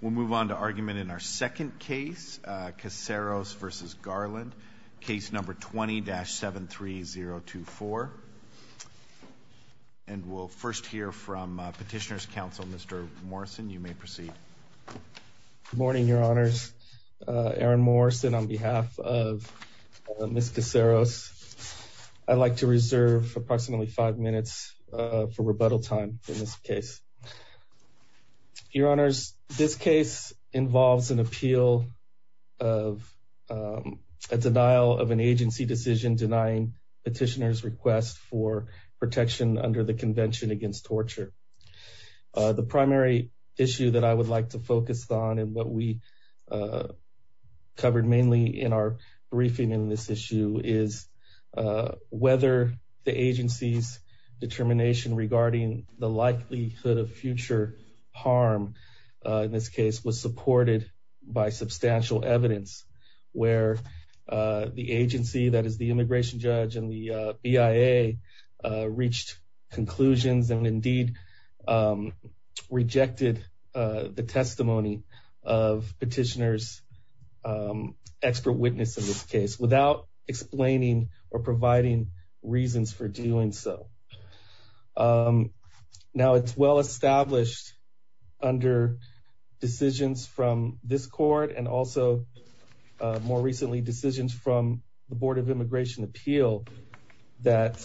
We'll move on to argument in our second case, Caceros v. Garland, case number 20-73024. And we'll first hear from Petitioner's Counsel, Mr. Morrison. You may proceed. Good morning, Your Honors. Aaron Morrison on behalf of Ms. Caceros. I'd like to reserve approximately five minutes for rebuttal time in this case. Your Honors, this case involves an appeal of a denial of an agency decision denying Petitioner's request for protection under the Convention Against Torture. The primary issue that I would like to focus on and what we covered mainly in our briefing in this issue is whether the agency's determination regarding the likelihood of future harm in this case was supported by substantial evidence, where the agency, that is the immigration judge and the BIA, reached conclusions and indeed rejected the testimony of Petitioner's expert witness in this case without explaining or providing reasons for doing so. Now it's well established under decisions from this court and also more recently decisions from the Board of Immigration Appeal that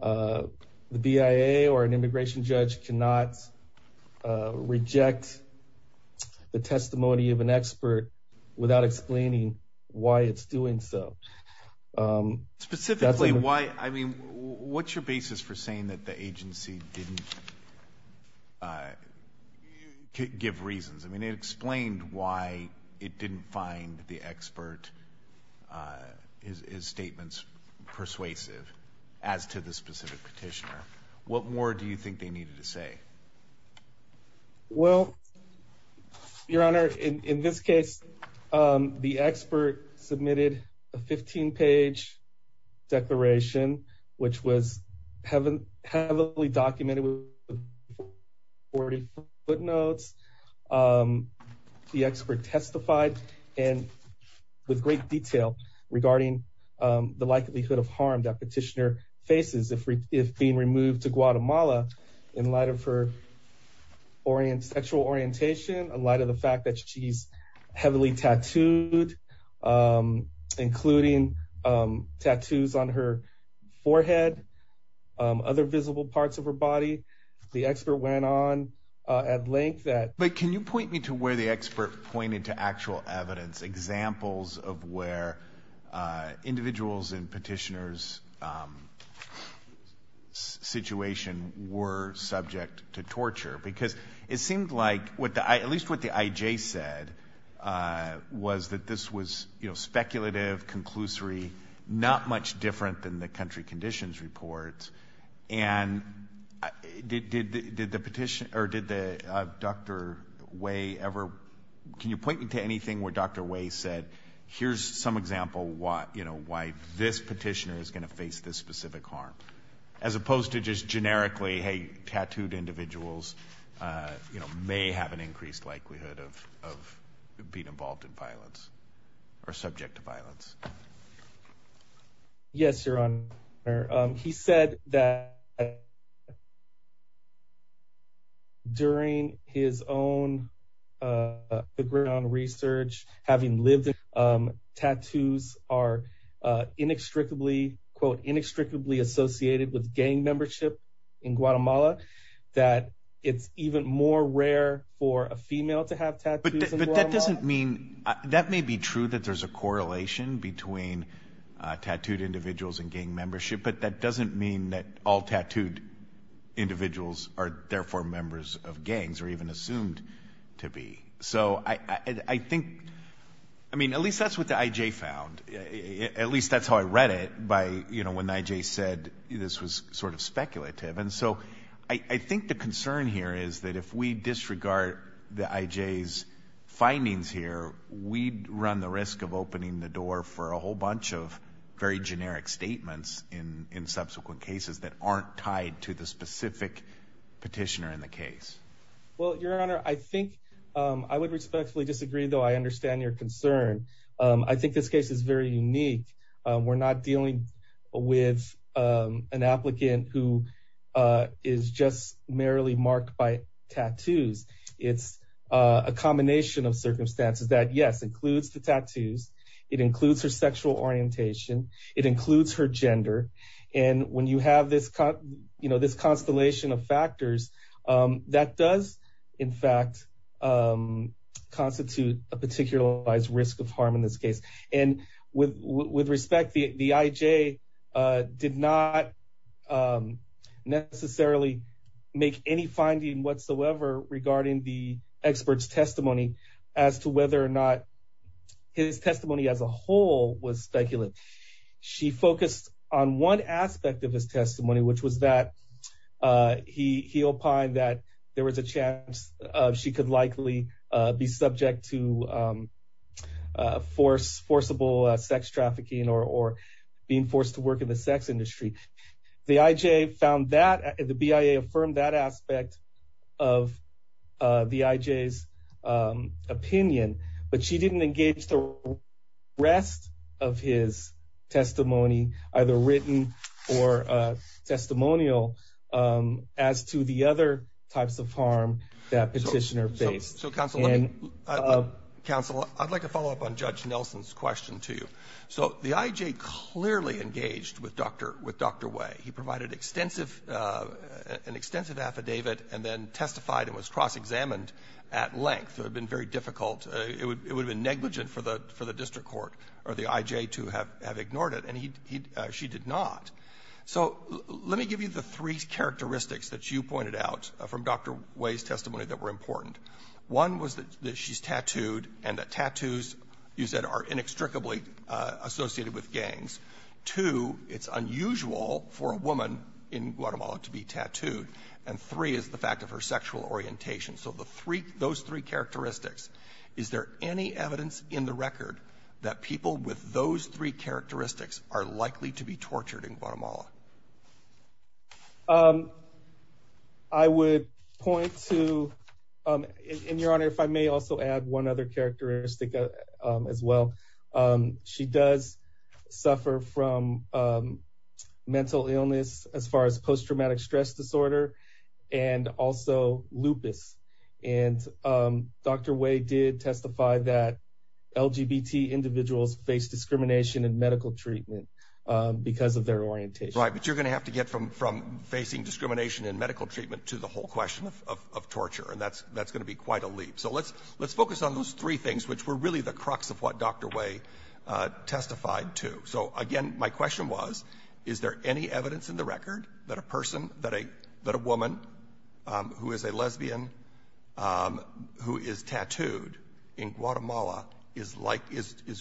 the BIA or an immigration judge cannot reject the testimony of an expert without explaining why it's doing so. Specifically, what's your basis for saying that the agency didn't give reasons? It explained why it didn't find the expert's statements persuasive as to the specific Petitioner. What more do you think they needed to say? Well, Your Honor, in this case, the expert submitted a 15-page declaration, which was heavily documented with 40 footnotes. The expert testified with great detail regarding the likelihood of harm that Petitioner faces if being removed to Guatemala in light of her sexual orientation, in light of the fact that she's heavily tattooed, including tattoos on her forehead, other visible parts of her body. The expert went on at length that... But can you point me to where the expert pointed to actual evidence, examples of where individuals in Petitioner's situation were subject to torture? Because it seemed like, at least what the IJ said, was that this was speculative, conclusory, not much different than the country conditions report. And did the Petitioner or did Dr. Wei ever... Can you point me to anything where Dr. Wei said, here's some example why this Petitioner is going to face this specific harm, as opposed to just generically, hey, tattooed individuals may have an increased likelihood of being involved in violence or subject to violence? Yes, Your Honor. He said that during his own background research, having lived in Guatemala, tattoos are inextricably, quote, inextricably associated with gang membership in Guatemala, that it's even more rare for a female to have tattoos in Guatemala. But that doesn't mean... That may be true that there's a correlation between tattooed individuals and gang membership, but that doesn't mean that all tattooed individuals are therefore members of gangs, or even assumed to be. So I think... I mean, at least that's what the IJ found. At least that's how I read it, by when the IJ said this was sort of speculative. And so I think the concern here is that if we disregard the IJ's findings here, we'd run the risk of opening the door for a whole bunch of very generic statements in subsequent cases that aren't tied to the specific Petitioner in the case. Well, Your Honor, I think I would respectfully disagree, though I understand your concern. I think this case is very unique. We're not dealing with an applicant who is just merely marked by tattoos. It's a combination of circumstances that, yes, includes the tattoos. It includes her sexual orientation. It includes her gender. And when you have this constellation of factors, that does in fact constitute a particularized risk of harm in this case. And with respect, the IJ did not necessarily make any finding whatsoever regarding the expert's testimony as to whether or not his testimony as a whole was speculative. She focused on one aspect of his testimony, which was that he opined that there was a chance she could likely be subject to forcible sex trafficking or being forced to work in the sex industry. The IJ found that, the BIA affirmed that aspect of the IJ's opinion, but she didn't engage the rest of his testimony, either written or testimonial, as to the other types of harm that Petitioner faced. And so, counsel, I'd like to follow up on Judge Nelson's question, too. So the IJ clearly engaged with Dr. Way. He provided an extensive affidavit and then testified and was cross-examined at length. It would have been very difficult. It would have been negligent for the district court or the IJ to have ignored it, and she did not. So let me give you the three characteristics that you pointed out from Dr. Way's testimony that were important. One was that she's tattooed and that tattoos, you said, are inextricably associated with gangs. Two, it's unusual for a woman in Guatemala to be tattooed. And three is the fact of her sexual orientation. So the three, those three characteristics, is there any evidence in the record that people with those three characteristics are likely to be tortured in Guatemala? I would point to, in your honor, if I may also add one other characteristic as well. She does suffer from mental illness as far as post-traumatic stress disorder and also lupus. And Dr. Way did testify that LGBT individuals face discrimination in medical treatment because of their orientation. Right, but you're going to have to get from facing discrimination in medical treatment to the whole question of torture, and that's going to be quite a leap. So let's focus on those three things, which were really the crux of what Dr. Way testified to. So, again, my question was, is there any evidence in the record that a person, that a woman who is a lesbian who is tattooed in Guatemala is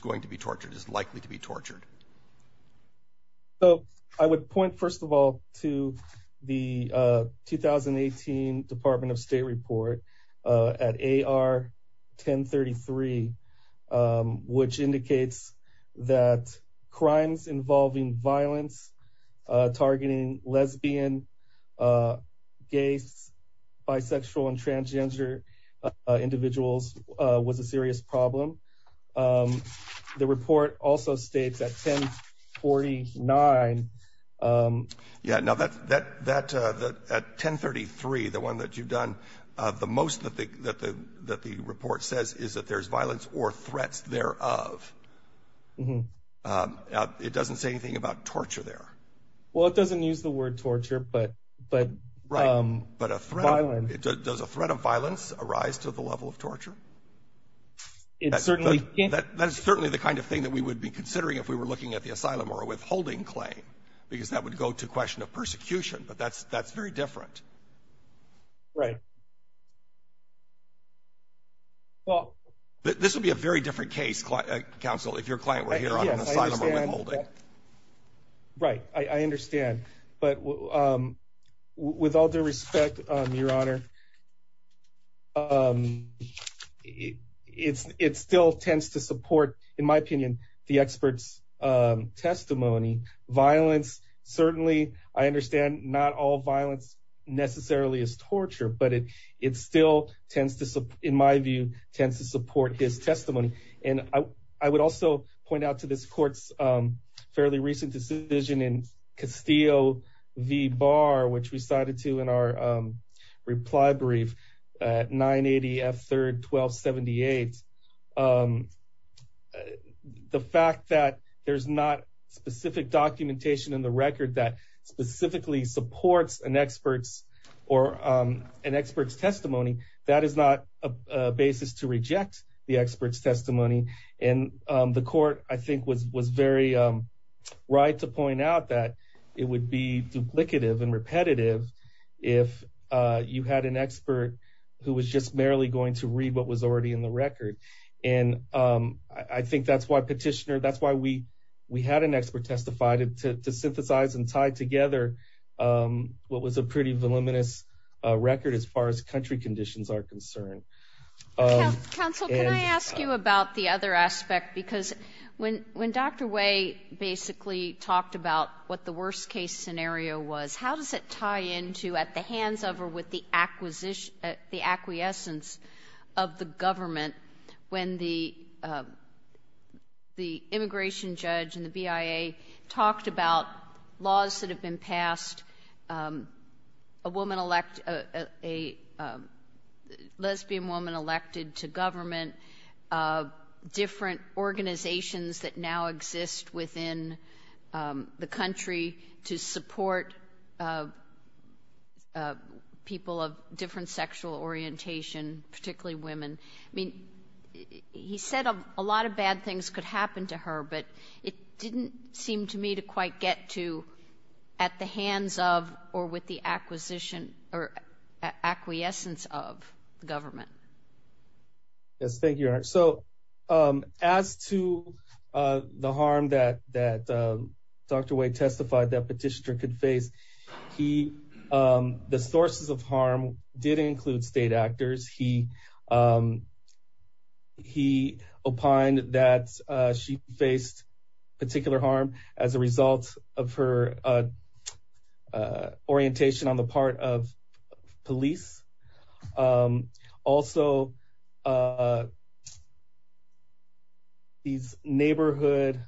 going to be tortured, is likely to be tortured? So I would point, first of all, to the 2018 Department of State report at AR 1033, which indicates that crimes involving violence targeting lesbian, gay, bisexual, and transgender individuals was a serious problem. The report also states at 1049... Yeah, no, at 1033, the one that you've done the most that the report says is that there's violence or threats thereof. It doesn't say anything about torture there. Well, it doesn't use the word torture, but... Right, but does a threat of violence arise to the level of torture? That is certainly the kind of thing that we would be considering if we were looking at the asylum or withholding claim, because that would go to the question of persecution, but that's very different. Right. This would be a very different case, counsel, if your client were here on an asylum or withholding. Right, I understand. But with all due respect, Your Honor, it still tends to support, in my opinion, the expert's testimony. Violence, certainly, I understand not all violence necessarily is torture, but it still, in my view, tends to support his testimony. And I would also point out to this court's fairly recent decision in Castillo v. Barr, which we cited to in our reply brief at 980 F. 3rd 1278, the fact that there's not specific documentation in the record that specifically supports an expert's testimony, that is not a basis to reject the expert's testimony. And the court, I think, was very right to point out that it would be duplicative and repetitive if you had an expert who was just merely going to read what was already in the record. And I think that's why petitioner, that's why we had an expert testify, to synthesize and tie together what was a pretty voluminous record as far as country conditions are concerned. Counsel, can I ask you about the other aspect? Because when Dr. Way basically talked about what the worst case scenario was, how does it tie into, at the hands of or with the acquiescence of the government when the immigration judge and the BIA talked about laws that have been passed, a woman elect, a lesbian woman elected to government, different organizations that now exist within the country to support people of different sexual orientation, particularly women. I mean, he said a lot of bad things could happen to her, but it didn't seem to me to quite get to at the hands of or with the acquisition or acquiescence of the government. Yes, thank you. So as to the harm that Dr. Way testified that petitioner could face, the sources of harm did include state actors. He opined that she faced particular harm as a result of her orientation on the part of police. Also. These neighborhood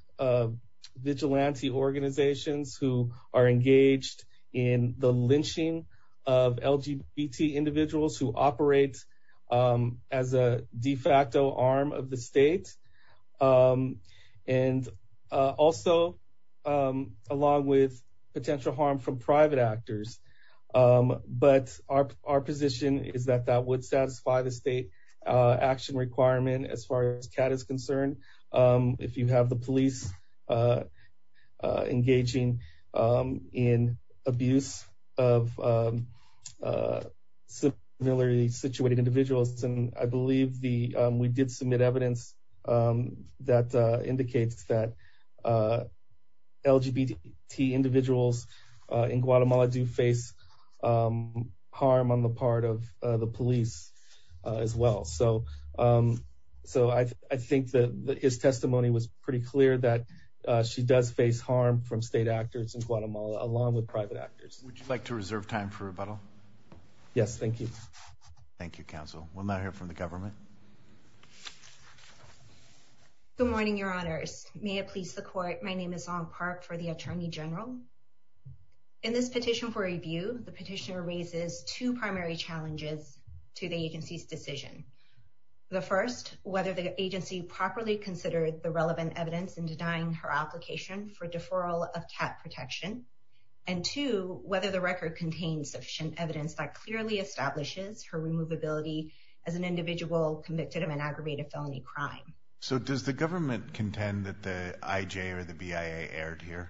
vigilante organizations who are engaged in the lynching of LGBT individuals who operate as a de facto arm of the state and also along with potential harm from private actors. But our position is that that would satisfy the state action requirement as far as CAT is concerned. If you have the police engaging in abuse of similarly situated individuals, and I believe the we did submit evidence that indicates that LGBT individuals in Guatemala do face harm on the part of the police as well. So. So I think that his testimony was pretty clear that she does face harm from state actors in Guatemala, along with private actors. Would you like to reserve time for rebuttal? Yes, thank you. Thank you, Counsel. We'll now hear from the government. Good morning, Your Honors. May it please the court. My name is Aung Park for the Attorney General. In this petition for review, the petitioner raises two primary challenges to the agency's decision. The first, whether the agency properly considered the relevant evidence in denying her application for deferral of CAT protection. And two, whether the record contains sufficient evidence that clearly establishes her removability as an individual convicted of an aggravated felony crime. So does the government contend that the IJ or the BIA erred here?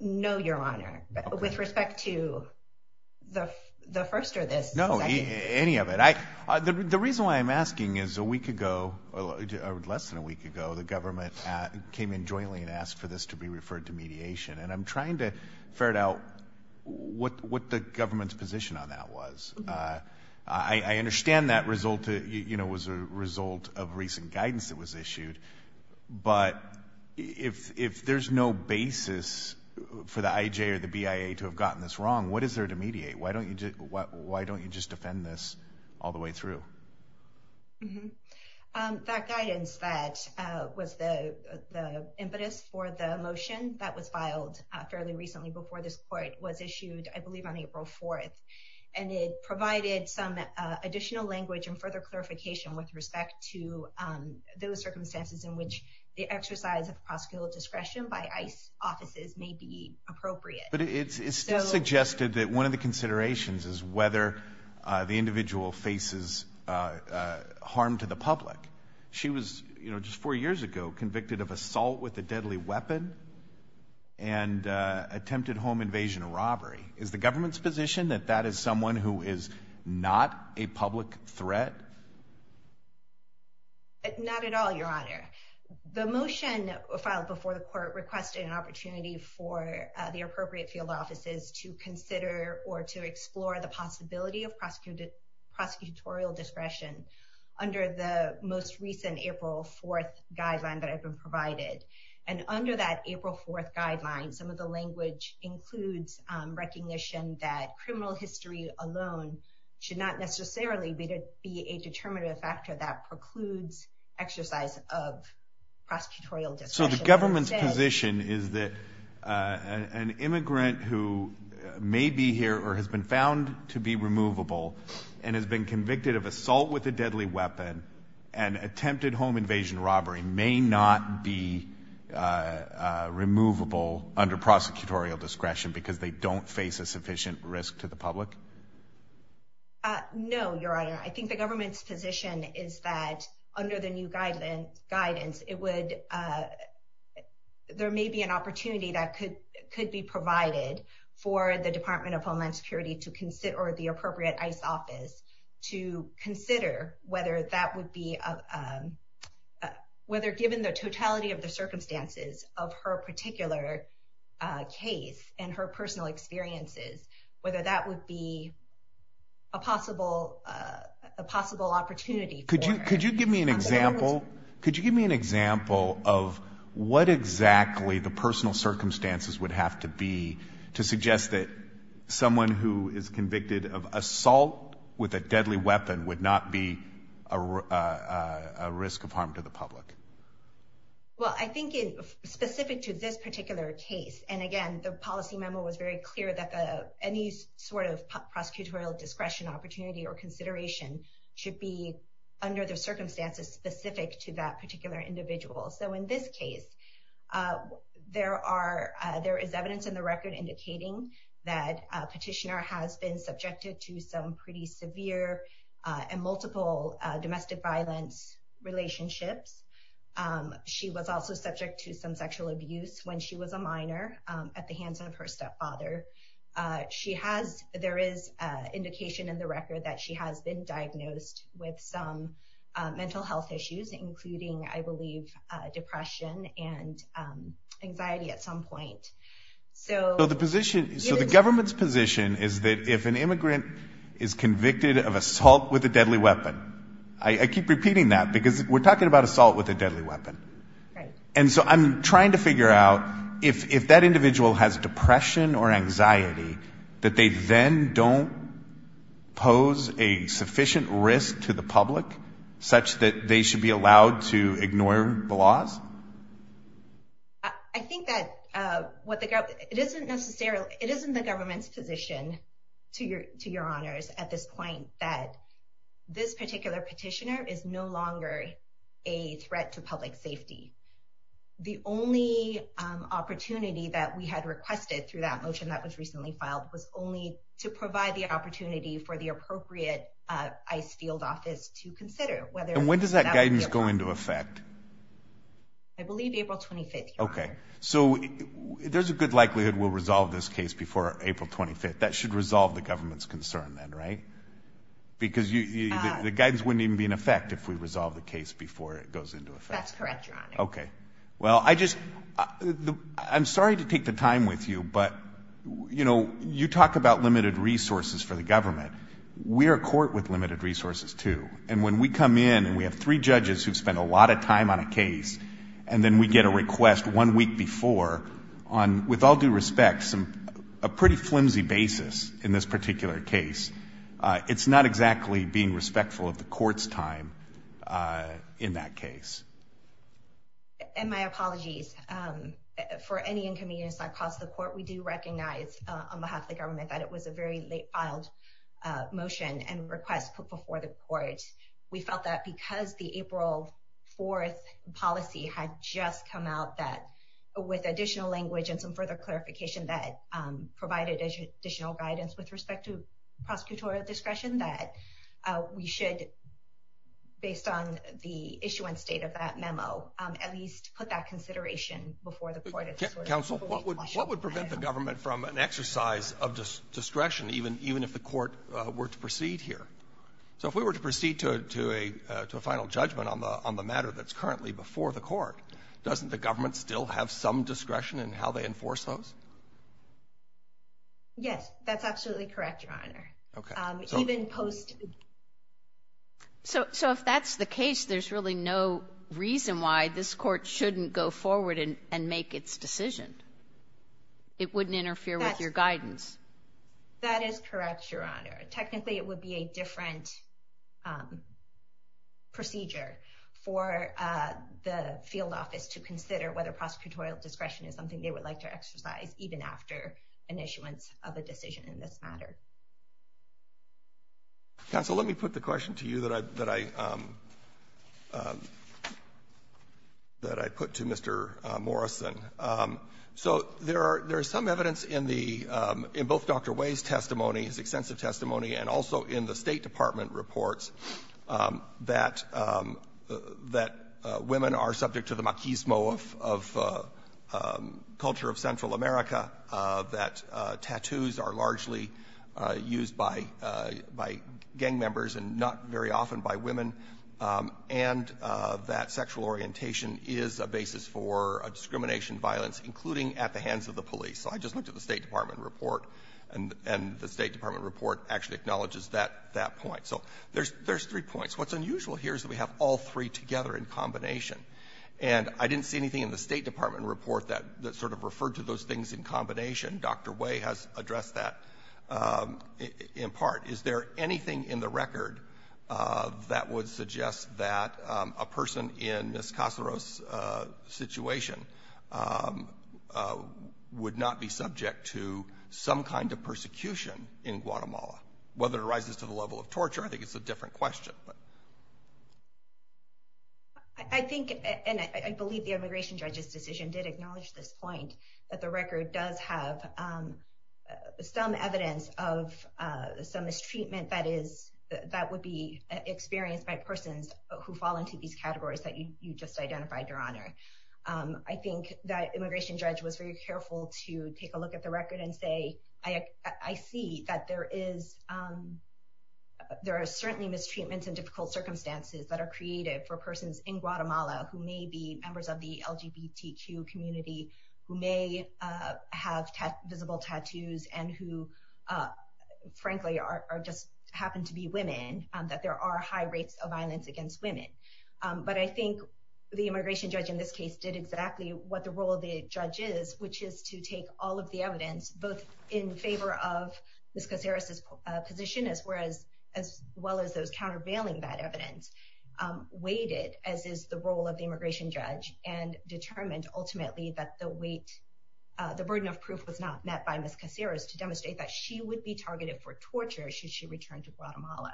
No, Your Honor. With respect to the first or this? No, any of it. The reason why I'm asking is a week ago, or less than a week ago, the government came in jointly and asked for this to be referred to mediation. And I'm trying to ferret out what the government's position on that was. I understand that result was a result of recent guidance that was issued. But if there's no basis for the IJ or the BIA to have gotten this wrong, what is there to mediate? Why don't you just defend this all the way through? That guidance that was the impetus for the motion that was filed fairly recently before this court was issued, I believe on April 4th. And it provided some additional language and further clarification with respect to those circumstances in which the exercise of prosecutorial discretion by ICE offices may be appropriate. But it still suggested that one of the considerations is whether the individual faces harm to the public. She was just four years ago convicted of assault with a deadly weapon and attempted home invasion or robbery. Is the government's position that that is someone who is not a public threat? Not at all, Your Honor. The motion filed before the court requested an opportunity for the appropriate field offices to consider or to explore the possibility of prosecutorial discretion under the most recent April 4th guideline that had been provided. And under that April 4th guideline, some of the language includes recognition that criminal history alone should not necessarily be a determinative factor that precludes exercise of prosecutorial discretion. So the government's position is that an immigrant who may be here or has been found to be removable and has been convicted of assault with a deadly weapon and attempted home invasion or robbery may not be removable under prosecutorial discretion because they don't face a sufficient risk to the public? No, Your Honor. I think the government's position is that under the new guidance, there may be an opportunity that could be provided for the Department of Homeland Security or the appropriate ICE office to consider whether given the totality of the circumstances of her particular case and her personal experiences, whether that would be a possible opportunity for her. Could you give me an example of what exactly the personal circumstances would have to be to suggest that someone who is convicted of assault with a deadly weapon would not be a risk of harm to the public? Well, I think specific to this particular case, and again, the policy memo was very clear that any sort of prosecutorial discretion, opportunity or consideration should be under the circumstances specific to that particular individual. So in this case, there is evidence in the record indicating that Petitioner has been subjected to some pretty severe and multiple domestic violence relationships. She was also subject to some sexual abuse when she was a minor at the hands of her stepfather. There is indication in the record that she has been diagnosed with some mental health issues, including, I believe, depression and anxiety at some point. So the government's position is that if an immigrant is convicted of assault with a deadly weapon, I keep repeating that because we're talking about assault with a deadly weapon. And so I'm trying to figure out if that individual has depression or anxiety, that they then don't pose a sufficient risk to the public such that they should be allowed to ignore the laws. I think that it isn't the government's position to your honors at this point that this particular petitioner is no longer a threat to public safety. The only opportunity that we had requested through that motion that was recently filed was only to provide the opportunity for the appropriate ICE field office to consider. And when does that guidance go into effect? I believe April 25th, your honor. Okay. So there's a good likelihood we'll resolve this case before April 25th. That should resolve the government's concern then, right? Because the guidance wouldn't even be in effect if we resolve the case before it goes into effect. That's correct, your honor. Okay. Well, I just, I'm sorry to take the time with you, but, you know, you talk about limited resources for the government. We're a court with limited resources, too. And when we come in and we have three judges who've spent a lot of time on a case, and then we get a request one week before on, with all due respect, a pretty flimsy basis in this particular case, it's not exactly being respectful of the court's time in that case. And my apologies for any inconvenience that caused the court. We do recognize on behalf of the government that it was a very late filed motion and request put before the court. We felt that because the April 4th policy had just come out that, with additional language and some further clarification that provided additional guidance with respect to prosecutorial discretion, that we should, based on the issuance date of that memo, at least put that consideration before the court. Counsel, what would prevent the government from an exercise of discretion, even if the court were to proceed here? So if we were to proceed to a final judgment on the matter that's currently before the court, doesn't the government still have some discretion in how they enforce those? Yes. That's absolutely correct, Your Honor. Okay. So if that's the case, there's really no reason why this court shouldn't go forward and make its decision. It wouldn't interfere with your guidance. That is correct, Your Honor. Technically, it would be a different procedure for the field office to consider whether prosecutorial discretion is something they would like to exercise, even after an issuance of a decision in this matter. Counsel, let me put the question to you that I put to Mr. Morrison. So there are some evidence in both Dr. Way's testimony, his extensive testimony, and also in the State Department reports that women are subject to the machismo of culture of Central America, that tattoos are largely used by gang members and not very often by women, and that sexual orientation is a basis for a discrimination violence, including at the hands of the police. So I just looked at the State Department report, and the State Department report actually acknowledges that point. So there's three points. What's unusual here is that we have all three together in combination. And I didn't see anything in the State Department report that sort of referred to those things in combination. Dr. Way has addressed that in part. Is there anything in the record that would suggest that a person in Ms. Cacero's situation would not be subject to some kind of persecution in Guatemala, whether it arises to the level of torture? I think it's a different question. I think and I believe the immigration judge's decision did acknowledge this point, that the record does have some evidence of some mistreatment that would be experienced by persons who fall into these categories that you just identified, Your Honor. I think that immigration judge was very careful to take a look at the record and say, I see that there are certainly mistreatments and difficult circumstances that are created for persons in Guatemala who may be members of the LGBTQ community, who may have visible tattoos, and who, frankly, just happen to be women, that there are high rates of violence against women. But I think the immigration judge in this case did exactly what the role of the judge is, which is to take all of the evidence, both in favor of Ms. Cacero's position, as well as those countervailing that evidence, weighted, as is the role of the immigration judge, and determined ultimately that the weight, the burden of proof was not met by Ms. Cacero's to demonstrate that she would be targeted for torture should she return to Guatemala.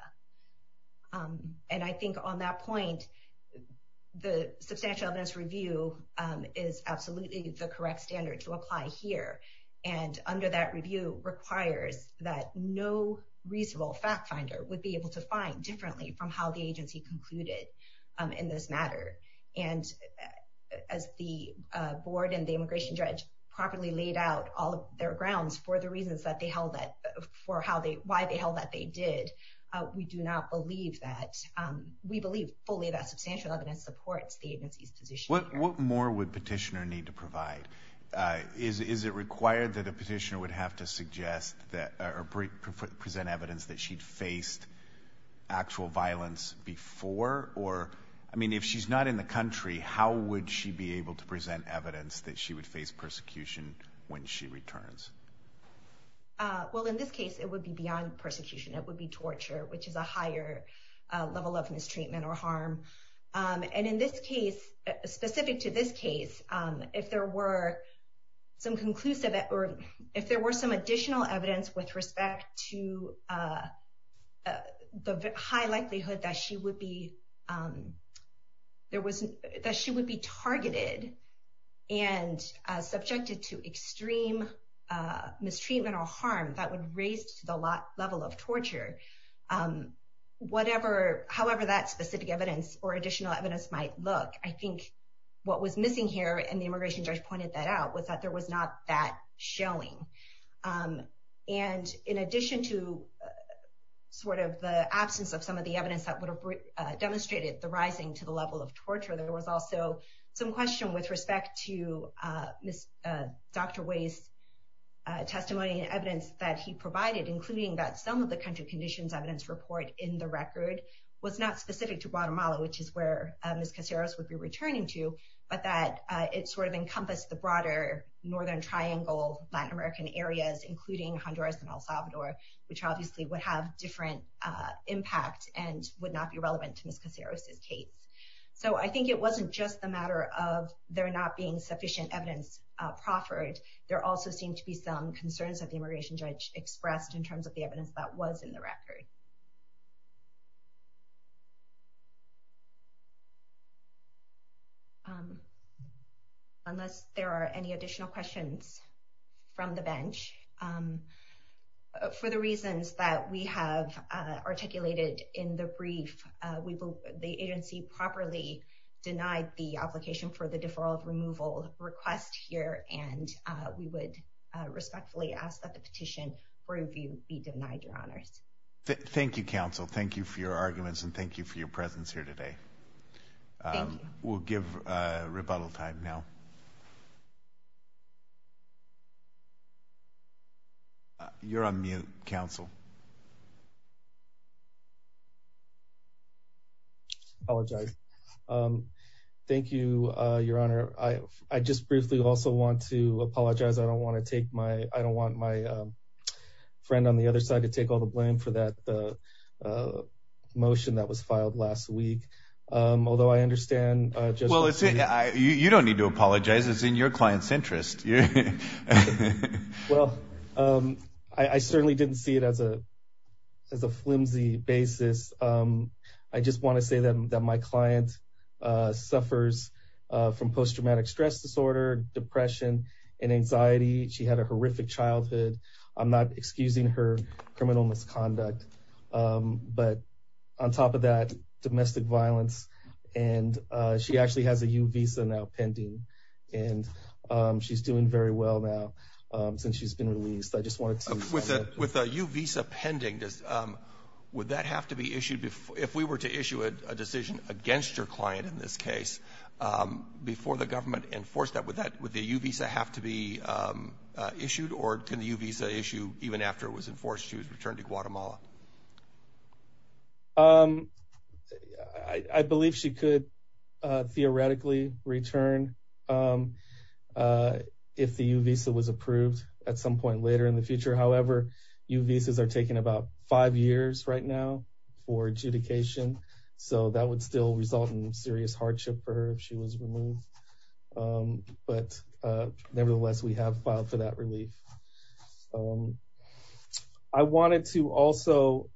And I think on that point, the substantial evidence review is absolutely the correct standard to apply here. And under that review requires that no reasonable fact finder would be able to find differently from how the agency concluded in this matter. And as the board and the immigration judge properly laid out all of their grounds for the reasons that they held that, for how they, why they held that they did, we do not believe that, we believe fully that substantial evidence supports the agency's position. What more would petitioner need to provide? Is it required that a petitioner would have to suggest or present evidence that she'd faced actual violence before? Or, I mean, if she's not in the country, how would she be able to present evidence that she would face persecution when she returns? Well, in this case, it would be beyond persecution. It would be torture, which is a higher level of mistreatment or harm. And in this case, specific to this case, if there were some conclusive, if there were some additional evidence with respect to the high likelihood that she would be targeted and subjected to extreme mistreatment or harm, that would raise the level of torture. However that specific evidence or additional evidence might look, I think what was missing here, and the immigration judge pointed that out, was that there was not that showing. And in addition to sort of the absence of some of the evidence that would have demonstrated the rising to the level of torture, there was also some question with respect to Dr. Way's testimony and evidence that he provided, including that some of the country conditions evidence report in the record was not specific to Guatemala, which is where Ms. Caseros would be returning to, but that it sort of encompassed the broader Northern Triangle Latin American areas, including Honduras and El Salvador, which obviously would have different impact and would not be relevant to Ms. Caseros' case. So I think it wasn't just a matter of there not being sufficient evidence proffered. There also seemed to be some concerns that the immigration judge expressed in terms of the evidence that was in the record. Unless there are any additional questions from the bench. For the reasons that we have articulated in the brief, the agency properly denied the application for the deferral of removal request here and we would respectfully ask that the petition review be denied, Your Honors. Thank you, counsel. Thank you for your arguments and thank you for your presence here today. We'll give rebuttal time now. You're on mute, counsel. Apologize. Thank you, Your Honor. I just briefly also want to apologize. I don't want my friend on the other side to take all the blame for that motion that was filed last week. Although I understand. You don't need to apologize. It's in your client's interest. Well, I certainly didn't see it as a flimsy basis. I just want to say that my client suffers from post-traumatic stress disorder, depression and anxiety. She had a horrific childhood. I'm not excusing her criminal misconduct, but on top of that, domestic violence. And she actually has a U visa now pending and she's doing very well now since she's been released. With a U visa pending, would that have to be issued if we were to issue a decision against your client in this case before the government enforced that? Would the U visa have to be issued or can the U visa issue even after it was enforced she was returned to Guatemala? I believe she could theoretically return if the U visa was approved at some point later in the future. However, U visas are taking about five years right now for adjudication. So that would still result in serious hardship for her if she was removed. But nevertheless, we have filed for that relief. I wanted to also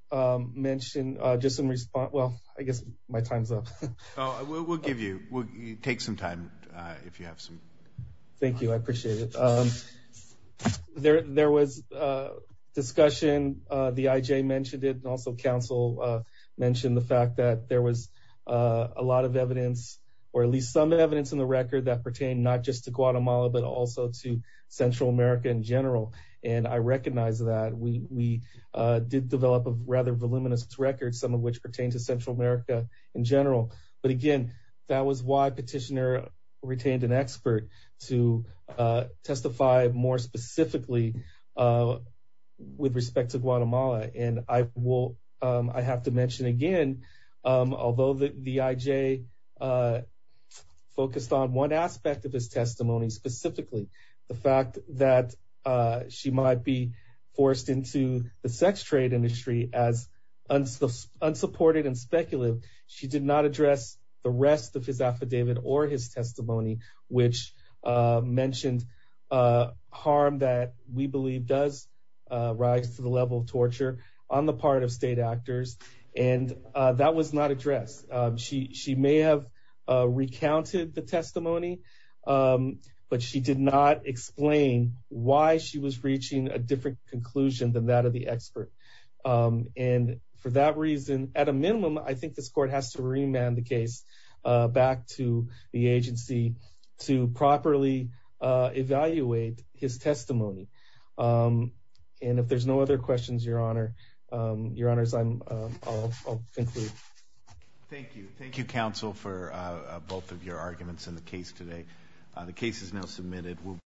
mention just in response, well, I guess my time's up. We'll give you, we'll take some time if you have some. Thank you. I appreciate it. There was a discussion, the IJ mentioned it and also council mentioned the fact that there was a lot of evidence or at least some evidence in the record that pertained not just to Guatemala, but also to Central America in general. And I recognize that we did develop a rather voluminous record, some of which pertain to Central America in general. But again, that was why petitioner retained an expert to testify more specifically with respect to Guatemala. And I will I have to mention again, although the IJ focused on one aspect of his testimony specifically, the fact that she might be forced into the sex trade industry as unsupported and speculative. She did not address the rest of his affidavit or his testimony, which mentioned harm that we believe does rise to the level of torture on the part of state actors. And that was not addressed. She she may have recounted the testimony, but she did not explain why she was reaching a different conclusion than that of the expert. And for that reason, at a minimum, I think this court has to remand the case back to the agency to properly evaluate his testimony. And if there's no other questions, your honor, your honors, I'm I'll conclude. Thank you. Thank you, counsel, for both of your arguments in the case today. The case is now submitted.